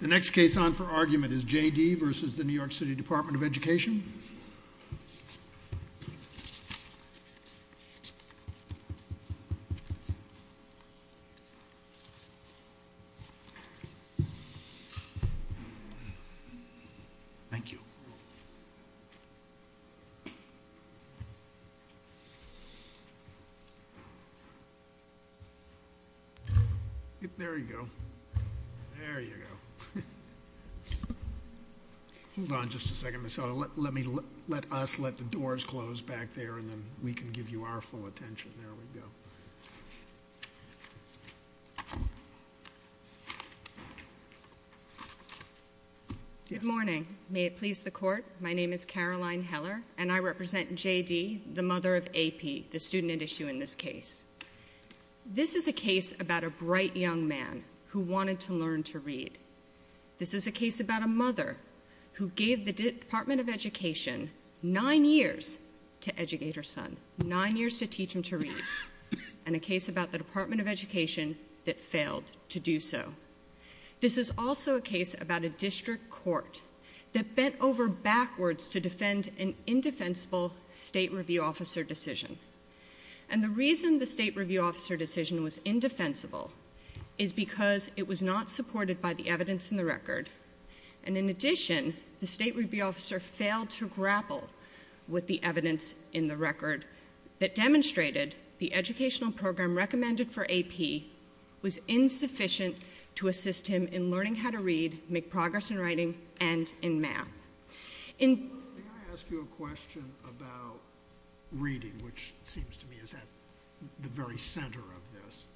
The next case on for argument is J.D. v. The New York City Department of Education. Thank you. There you go. There you go. Hold on just a second, Ms. Otto. Let us let the doors close back there and then we can give you our full attention. There we go. Good morning. May it please the court, my name is Caroline Heller and I represent J.D., the mother of A.P., the student at issue in this case. This is a case about a bright young man who wanted to learn to read. This is a case about a mother who gave the Department of Education nine years to educate her son, nine years to teach him to read, and a case about the Department of Education that failed to do so. This is also a case about a district court that bent over backwards to defend an indefensible state review officer decision. And the reason the state review officer decision was indefensible is because it was not supported by the evidence in the record. And in addition, the state review officer failed to grapple with the evidence in the record that demonstrated the educational program recommended for A.P. was insufficient to assist him in learning how to read, make progress in writing, and in math. May I ask you a question about reading, which seems to me is at the very center of this?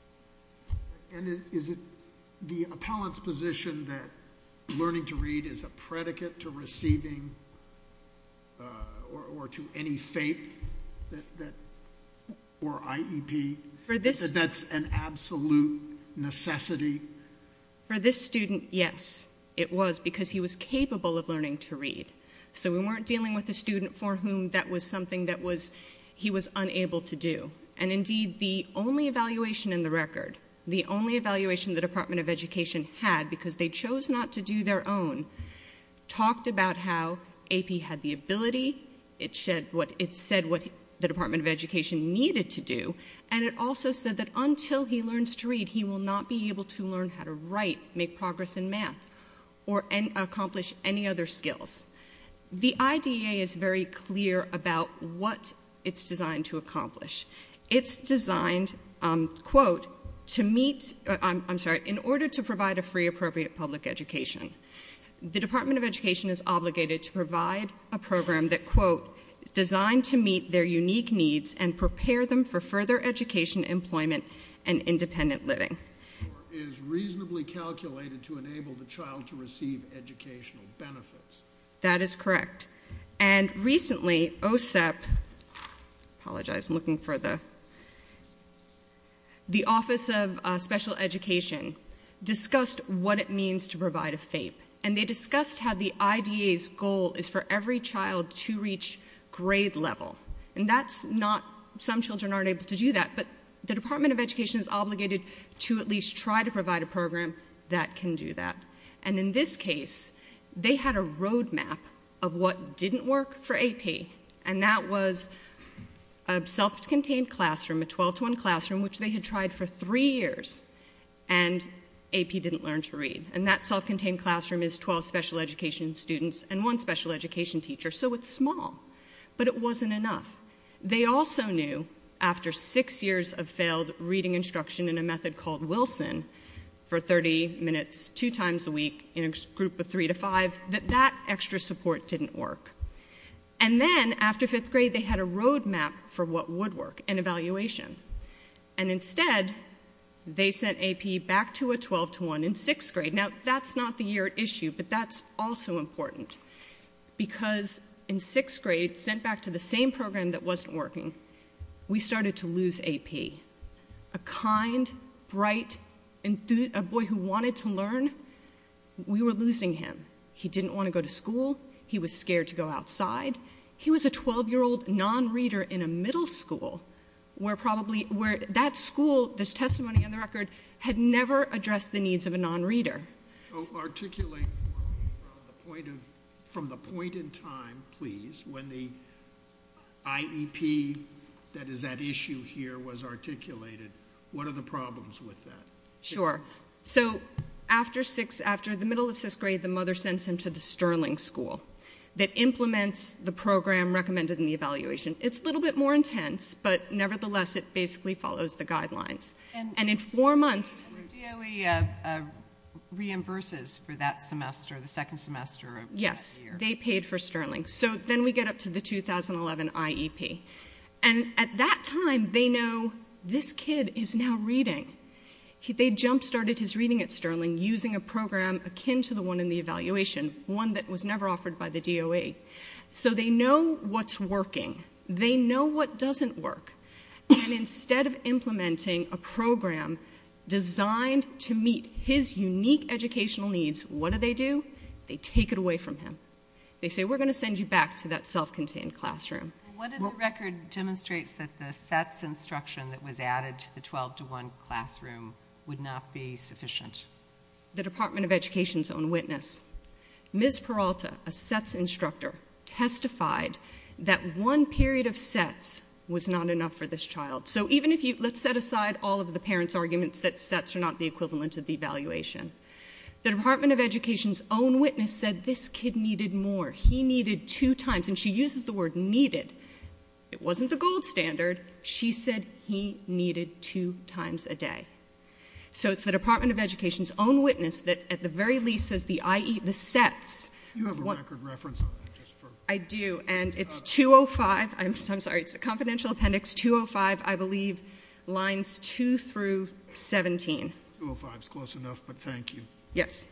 And is it the appellant's position that learning to read is a predicate to receiving or to any fate or IEP, that that's an absolute necessity? For this student, yes, it was, because he was capable of learning to read. So we weren't dealing with a student for whom that was something that he was unable to do. And indeed, the only evaluation in the record, the only evaluation the Department of Education had, because they chose not to do their own, talked about how A.P. had the ability, it said what the Department of Education needed to do, and it also said that until he learns to read, he will not be able to learn how to write, make progress in math, or accomplish any other skills. The IDEA is very clear about what it's designed to accomplish. It's designed, quote, to meet, I'm sorry, in order to provide a free appropriate public education. The Department of Education is obligated to provide a program that, quote, is designed to meet their unique needs and prepare them for further education, employment, and independent living. Or is reasonably calculated to enable the child to receive educational benefits. That is correct. And recently, OSEP, I apologize, I'm looking for the Office of Special Education, discussed what it means to provide a FAPE. And they discussed how the IDEA's goal is for every child to reach grade level. And that's not, some children aren't able to do that, but the Department of Education is obligated to at least try to provide a program that can do that. And in this case, they had a roadmap of what didn't work for AP. And that was a self-contained classroom, a 12-to-1 classroom, which they had tried for three years. And AP didn't learn to read. And that self-contained classroom is 12 special education students and one special education teacher. So it's small. But it wasn't enough. They also knew, after six years of failed reading instruction in a method called Wilson, for 30 minutes, two times a week, in a group of three to five, that that extra support didn't work. And then, after fifth grade, they had a roadmap for what would work, an evaluation. And instead, they sent AP back to a 12-to-1 in sixth grade. Now, that's not the year at issue, but that's also important. Because in sixth grade, sent back to the same program that wasn't working, we started to lose AP. A kind, bright, a boy who wanted to learn, we were losing him. He didn't want to go to school. He was scared to go outside. He was a 12-year-old non-reader in a middle school where that school, this testimony on the record, had never addressed the needs of a non-reader. Articulate for me, from the point in time, please, when the IEP, that is, that issue here, was articulated, what are the problems with that? Sure. So, after the middle of sixth grade, the mother sends him to the Sterling School that implements the program recommended in the evaluation. It's a little bit more intense, but nevertheless, it basically follows the guidelines. And in four months... And the DOE reimburses for that semester, the second semester of that year. Yes. They paid for Sterling. So, then we get up to the 2011 IEP. And at that time, they know, this kid is now reading. They jump-started his reading at Sterling using a program akin to the one in the evaluation, one that was never offered by the DOE. So, they know what's working. They know what doesn't work. And instead of implementing a program designed to meet his unique educational needs, what do they do? They take it away from him. They say, we're going to send you back to that self-contained classroom. What did the record demonstrate that the SETS instruction that was added to the 12-to-1 classroom would not be sufficient? The Department of Education's own witness, Ms. Peralta, a SETS instructor, testified that one period of SETS was not enough for this child. So, even if you... Let's set aside all of the parents' arguments that SETS are not the equivalent of the evaluation. The Department of Education's own witness said this kid needed more. He needed two times. And she uses the word needed. It wasn't the gold standard. She said he needed two times a day. So, it's the Department of Education's own witness that, at the very least, says the SETS... You have a record reference on that, just for... I do, and it's 205. I'm sorry. It's a confidential appendix, 205, I believe, lines 2 through 17. 205 is close enough, but thank you. Yes.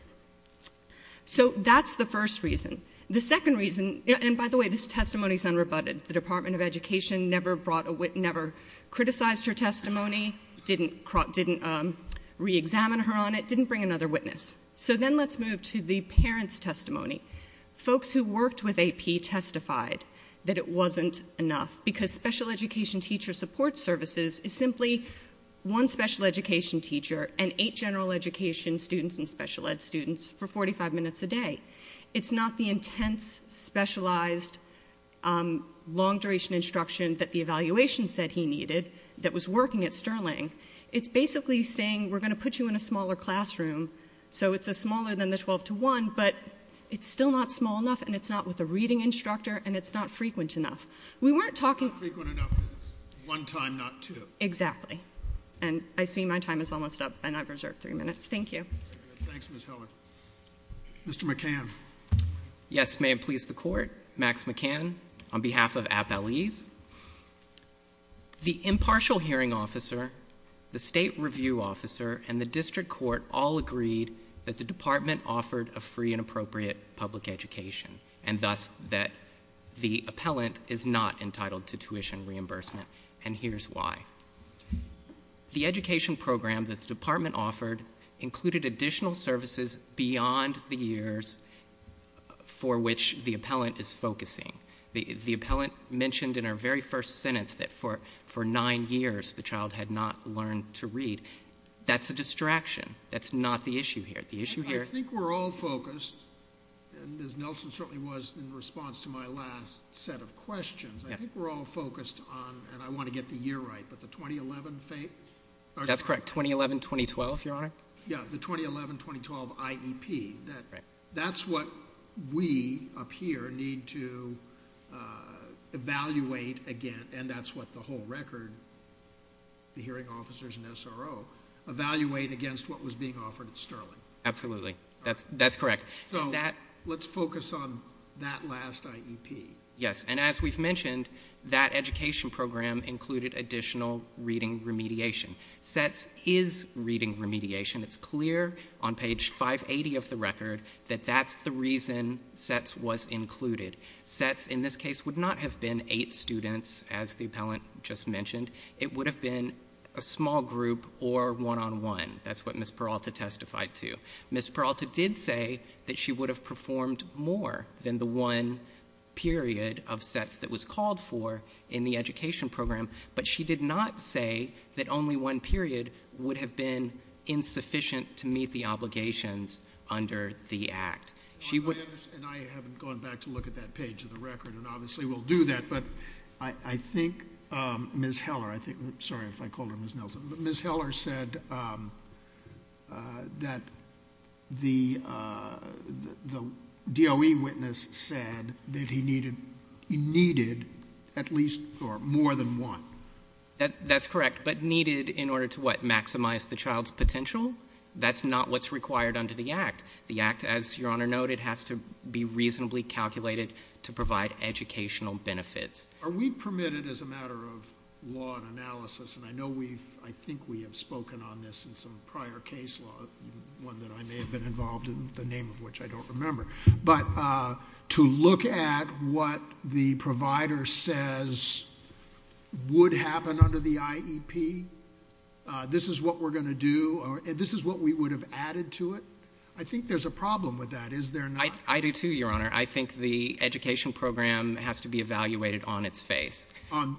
So, that's the first reason. The second reason... And, by the way, this testimony is unrebutted. The Department of Education never criticized her testimony, didn't re-examine her on it, didn't bring another witness. So, then let's move to the parents' testimony. Folks who worked with AP testified that it wasn't enough, because special education teacher support services is simply one special education teacher and eight general education students and special ed students for 45 minutes a day. It's not the intense, specialized, long-duration instruction that the evaluation said he needed that was working at Sterling. It's basically saying, we're going to put you in a smaller classroom, so it's smaller than the 12 to 1, but it's still not small enough, and it's not with a reading instructor, and it's not frequent enough. We weren't talking... Not frequent enough because it's one time, not two. Exactly. And I see my time is almost up, and I've reserved three minutes. Thank you. Thanks, Ms. Hellman. Mr. McCann. Yes. May it please the Court. Max McCann, on behalf of AP LEs. The impartial hearing officer, the state review officer, and the district court all agreed that the department offered a free and appropriate public education, and thus that the appellant is not entitled to tuition reimbursement, and here's why. The education program that the department offered included additional services beyond the years for which the appellant is focusing. The appellant mentioned in our very first sentence that for nine years the child had not learned to read. That's a distraction. That's not the issue here. The issue here... I think we're all focused, and Ms. Nelson certainly was in response to my last set of questions. I think we're all focused on, and I want to get the year right, but the 2011... That's correct, 2011-2012, Your Honor. Yeah, the 2011-2012 IEP. That's what we up here need to evaluate again, and that's what the whole record, the hearing officers and SRO, evaluate against what was being offered at Sterling. Absolutely. That's correct. So let's focus on that last IEP. Yes, and as we've mentioned, that education program included additional reading remediation. SETS is reading remediation. It's clear on page 580 of the record that that's the reason SETS was included. SETS in this case would not have been eight students, as the appellant just mentioned. It would have been a small group or one-on-one. That's what Ms. Peralta testified to. Ms. Peralta did say that she would have performed more than the one period of SETS that was called for in the education program, but she did not say that only one period would have been insufficient to meet the obligations under the Act. And I haven't gone back to look at that page of the record, and obviously we'll do that, but I think Ms. Heller, sorry if I called her Ms. Nelson, but Ms. Heller said that the DOE witness said that he needed at least more than one. That's correct, but needed in order to, what, maximize the child's potential? That's not what's required under the Act. The Act, as Your Honor noted, has to be reasonably calculated to provide educational benefits. Are we permitted, as a matter of law and analysis, and I know we've, I think we have spoken on this in some prior case law, one that I may have been involved in, the name of which I don't remember, but to look at what the provider says would happen under the IEP, this is what we're going to do, this is what we would have added to it? I think there's a problem with that, is there not? I do too, Your Honor. I think the education program has to be evaluated on its face. On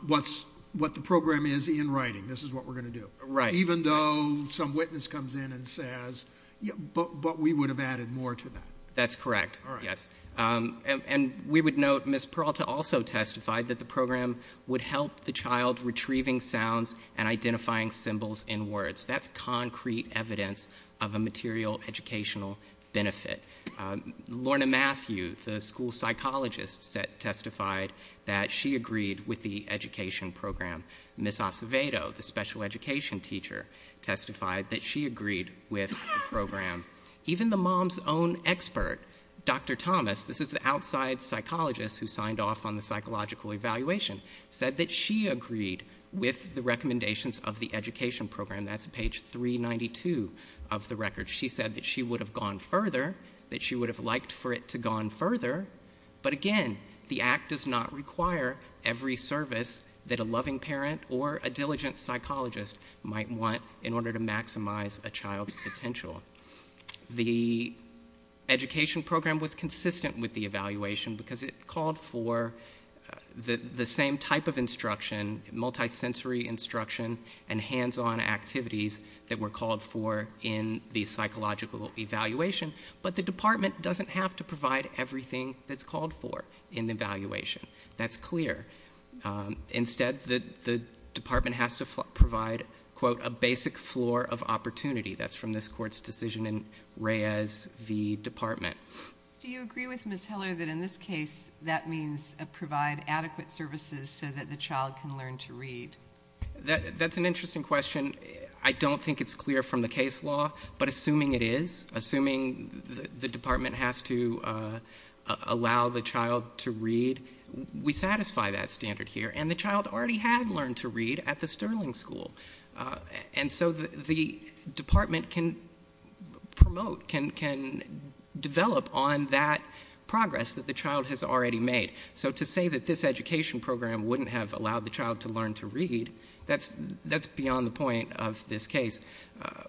what the program is in writing, this is what we're going to do. Right. Even though some witness comes in and says, but we would have added more to that. That's correct, yes. All right. And we would note Ms. Peralta also testified that the program would help the child retrieving sounds and identifying symbols in words. That's concrete evidence of a material educational benefit. Lorna Matthew, the school psychologist, testified that she agreed with the education program. Ms. Acevedo, the special education teacher, testified that she agreed with the program. Even the mom's own expert, Dr. Thomas, this is the outside psychologist who signed off on the psychological evaluation, said that she agreed with the recommendations of the education program. That's page 392 of the record. She said that she would have gone further, that she would have liked for it to have gone further, but again, the act does not require every service that a loving parent or a diligent psychologist might want in order to maximize a child's potential. The education program was consistent with the evaluation because it called for the same type of instruction, multi-sensory instruction and hands-on activities that were called for in the psychological evaluation, but the department doesn't have to provide everything that's called for in the evaluation. That's clear. Instead, the department has to provide, quote, a basic floor of opportunity. That's from this court's decision in Reyes v. Department. Do you agree with Ms. Hiller that in this case that means provide adequate services so that the child can learn to read? That's an interesting question. I don't think it's clear from the case law, but assuming it is, assuming the department has to allow the child to read, we satisfy that standard here, and the child already had learned to read at the Sterling School, and so the department can promote, can develop on that progress that the child has already made. So to say that this education program wouldn't have allowed the child to learn to read, that's beyond the point of this case.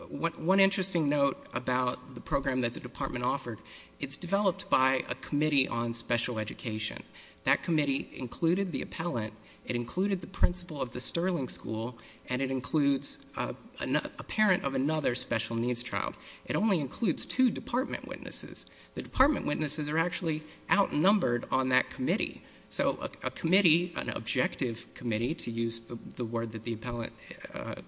One interesting note about the program that the department offered, it's developed by a committee on special education. That committee included the appellant, it included the principal of the Sterling School, and it includes a parent of another special needs child. It only includes two department witnesses. The department witnesses are actually outnumbered on that committee. So a committee, an objective committee, to use the word that the appellant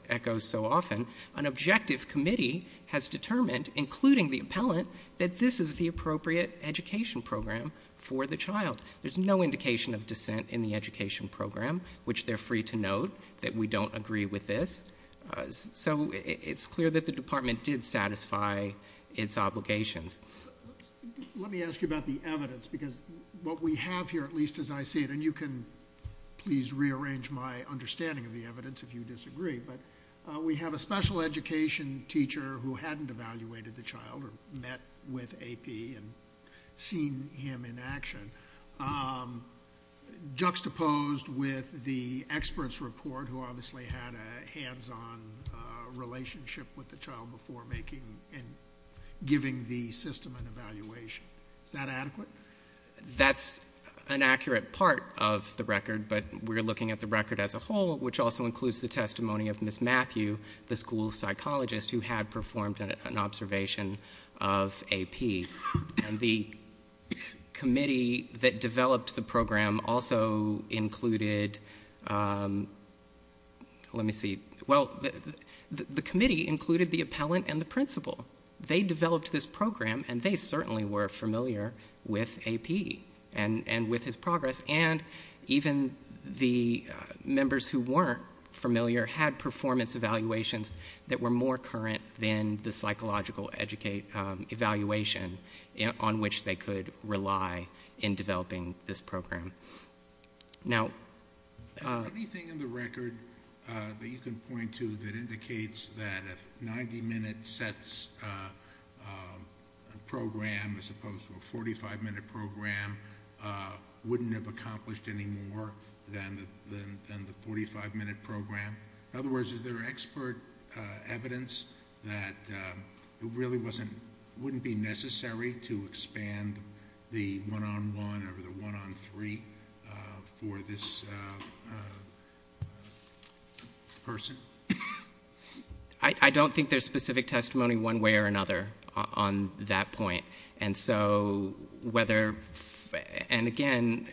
echoes so often, an objective committee has determined, including the appellant, that this is the appropriate education program for the child. There's no indication of dissent in the education program, which they're free to note, that we don't agree with this. So it's clear that the department did satisfy its obligations. Let me ask you about the evidence, because what we have here, at least as I see it, and you can please rearrange my understanding of the evidence if you disagree, but we have a special education teacher who hadn't evaluated the child or met with AP and seen him in action, juxtaposed with the expert's report who obviously had a hands-on relationship with the child before making and giving the system an evaluation. Is that adequate? That's an accurate part of the record, but we're looking at the record as a whole, which also includes the testimony of Ms. Matthew, the school psychologist who had performed an observation of AP. And the committee that developed the program also included the appellant and the principal. They developed this program, and they certainly were familiar with AP and with his progress, and even the members who weren't familiar had performance evaluations that were more current than the psychological evaluation on which they could rely in developing this program. Now... Is there anything in the record that you can point to that indicates that a 90-minute program as opposed to a 45-minute program wouldn't have accomplished any more than the 45-minute program? In other words, is there expert evidence that it really wouldn't be necessary to expand the one-on-one or the one-on-three for this person? I don't think there's specific testimony one way or another on that point. And so whether... And, again,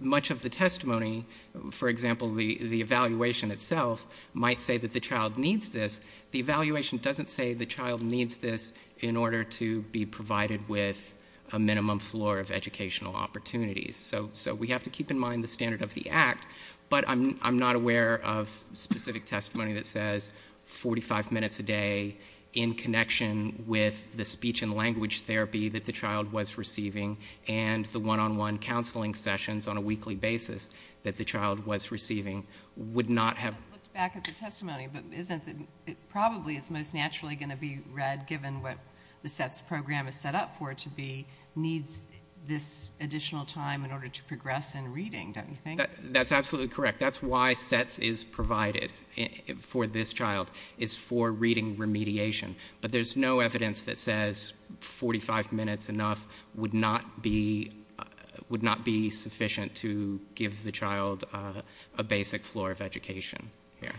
much of the testimony, for example, the evaluation itself, might say that the child needs this. The evaluation doesn't say the child needs this in order to be provided with a minimum floor of educational opportunities. So we have to keep in mind the standard of the act, but I'm not aware of specific testimony that says 45 minutes a day in connection with the speech and language therapy that the child was receiving and the one-on-one counseling sessions on a weekly basis that the child was receiving would not have... I looked back at the testimony, but probably it's most naturally going to be read, given what the SETS program is set up for it to be, needs this additional time in order to progress in reading, don't you think? That's absolutely correct. That's why SETS is provided for this child, is for reading remediation. But there's no evidence that says 45 minutes enough would not be sufficient to give the child a basic floor of education here,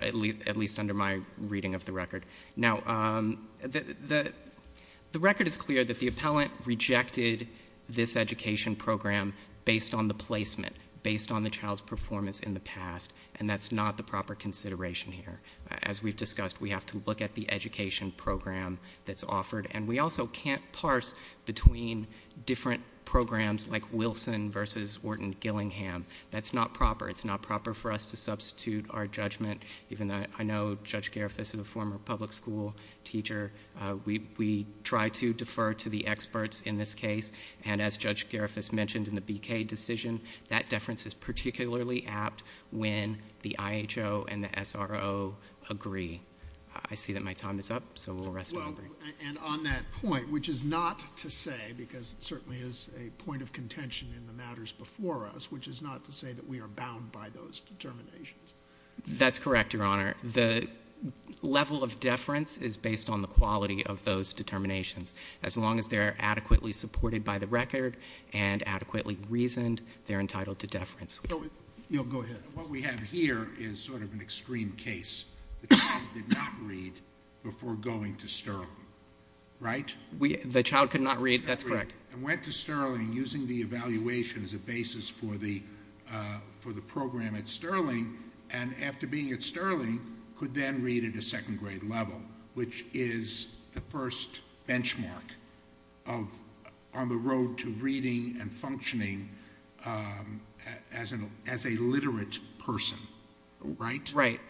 at least under my reading of the record. Now, the record is clear that the appellant rejected this education program based on the placement, based on the child's performance in the past, and that's not the proper consideration here. As we've discussed, we have to look at the education program that's offered, and we also can't parse between different programs like Wilson v. Wharton-Gillingham. That's not proper. It's not proper for us to substitute our judgment, even though I know Judge Garifuss is a former public school teacher. We try to defer to the experts in this case, and as Judge Garifuss mentioned in the BK decision, that deference is particularly apt when the IHO and the SRO agree. I see that my time is up, so we'll rest for a moment. And on that point, which is not to say, because it certainly is a point of contention in the matters before us, which is not to say that we are bound by those determinations. That's correct, Your Honor. The level of deference is based on the quality of those determinations. As long as they're adequately supported by the record and adequately reasoned, they're entitled to deference. Go ahead. What we have here is sort of an extreme case. The child did not read before going to Sterling, right? The child could not read. That's correct. And went to Sterling using the evaluation as a basis for the program at Sterling, and after being at Sterling could then read at a second-grade level, which is the first benchmark on the road to reading and functioning as a literate person, right? Right.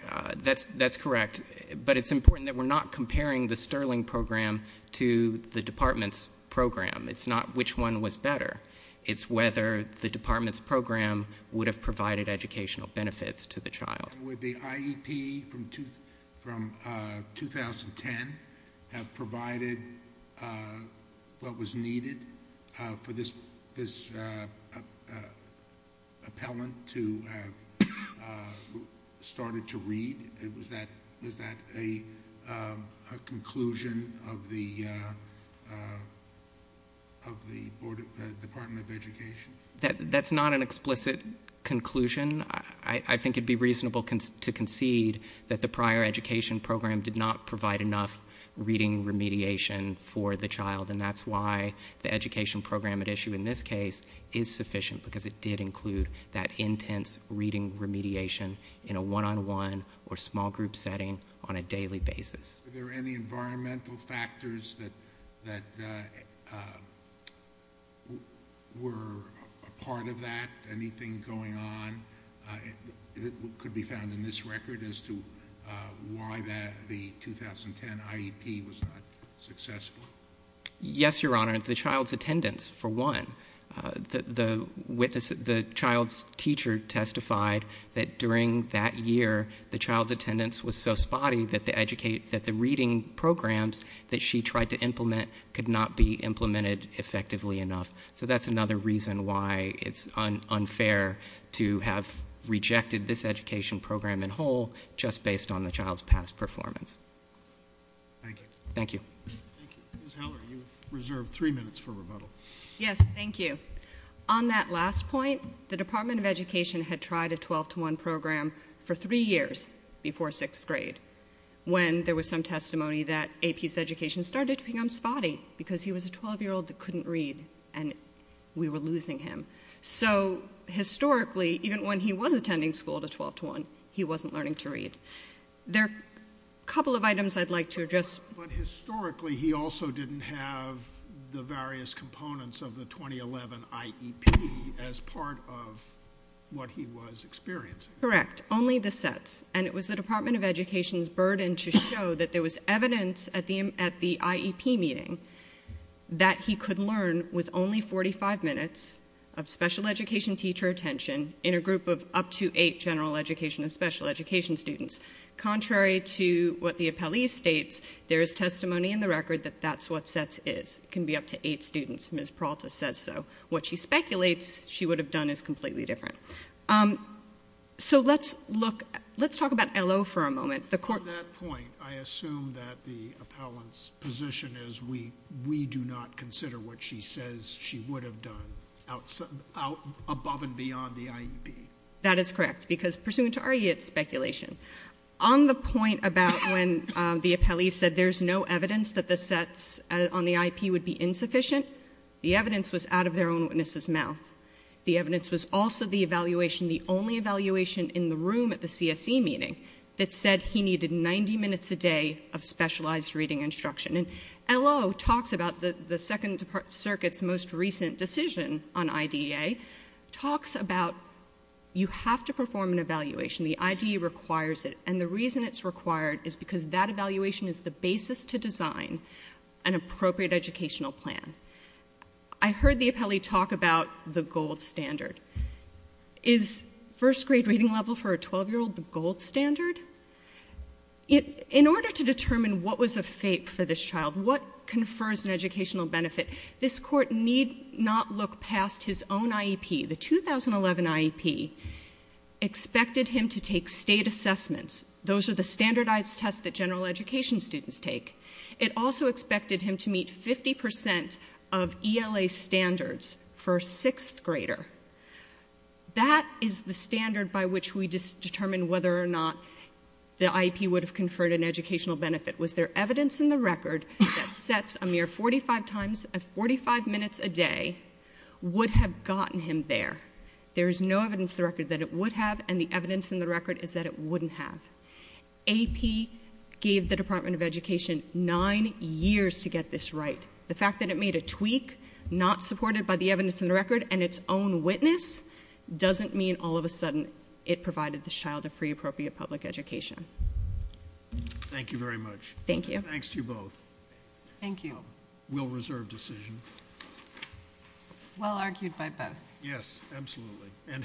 That's correct. But it's important that we're not comparing the Sterling program to the department's program. It's not which one was better. It's whether the department's program would have provided educational benefits to the child. Would the IEP from 2010 have provided what was needed for this appellant to have started to read? Was that a conclusion of the Department of Education? That's not an explicit conclusion. I think it would be reasonable to concede that the prior education program did not provide enough reading remediation for the child, and that's why the education program at issue in this case is sufficient because it did include that intense reading remediation in a one-on-one or small group setting on a daily basis. Were there any environmental factors that were a part of that? Anything going on that could be found in this record as to why the 2010 IEP was not successful? Yes, Your Honor, the child's attendance, for one. The child's teacher testified that during that year the child's attendance was so spotty that the reading programs that she tried to implement could not be implemented effectively enough. So that's another reason why it's unfair to have rejected this education program in whole just based on the child's past performance. Thank you. Thank you. Ms. Heller, you've reserved three minutes for rebuttal. Yes, thank you. On that last point, the Department of Education had tried a 12-to-1 program for three years before sixth grade when there was some testimony that AP's education started to become spotty because he was a 12-year-old that couldn't read, and we were losing him. So historically, even when he was attending school to 12-to-1, he wasn't learning to read. There are a couple of items I'd like to address. But historically, he also didn't have the various components of the 2011 IEP as part of what he was experiencing. Correct, only the sets. And it was the Department of Education's burden to show that there was evidence at the IEP meeting that he could learn with only 45 minutes of special education teacher attention in a group of up to eight general education and special education students. Contrary to what the appellee states, there is testimony in the record that that's what sets is. It can be up to eight students. Ms. Peralta says so. What she speculates she would have done is completely different. So let's talk about LO for a moment. On that point, I assume that the appellant's position is we do not consider what she says she would have done above and beyond the IEP. That is correct. Because pursuant to our speculation, on the point about when the appellee said there's no evidence that the sets on the IEP would be insufficient, the evidence was out of their own witness's mouth. The evidence was also the evaluation, the only evaluation in the room at the CSE meeting that said he needed 90 minutes a day of specialized reading instruction. And LO talks about the Second Circuit's most recent decision on IDEA, talks about you have to perform an evaluation. The IDEA requires it. And the reason it's required is because that evaluation is the basis to design an appropriate educational plan. I heard the appellee talk about the gold standard. Is first grade reading level for a 12-year-old the gold standard? In order to determine what was a fate for this child, what confers an educational benefit, this Court need not look past his own IEP. The 2011 IEP expected him to take state assessments. Those are the standardized tests that general education students take. It also expected him to meet 50 percent of ELA standards for a sixth grader. That is the standard by which we determine whether or not the IEP would have conferred an educational benefit. Was there evidence in the record that sets a mere 45 minutes a day would have gotten him there? There is no evidence in the record that it would have, and the evidence in the record is that it wouldn't have. AP gave the Department of Education nine years to get this right. The fact that it made a tweak not supported by the evidence in the record and its own witness doesn't mean all of a sudden it provided this child a free, appropriate public education. Thank you very much. Thank you. Thanks to you both. Thank you. Well-reserved decision. Well argued by both. Yes, absolutely, and helpful.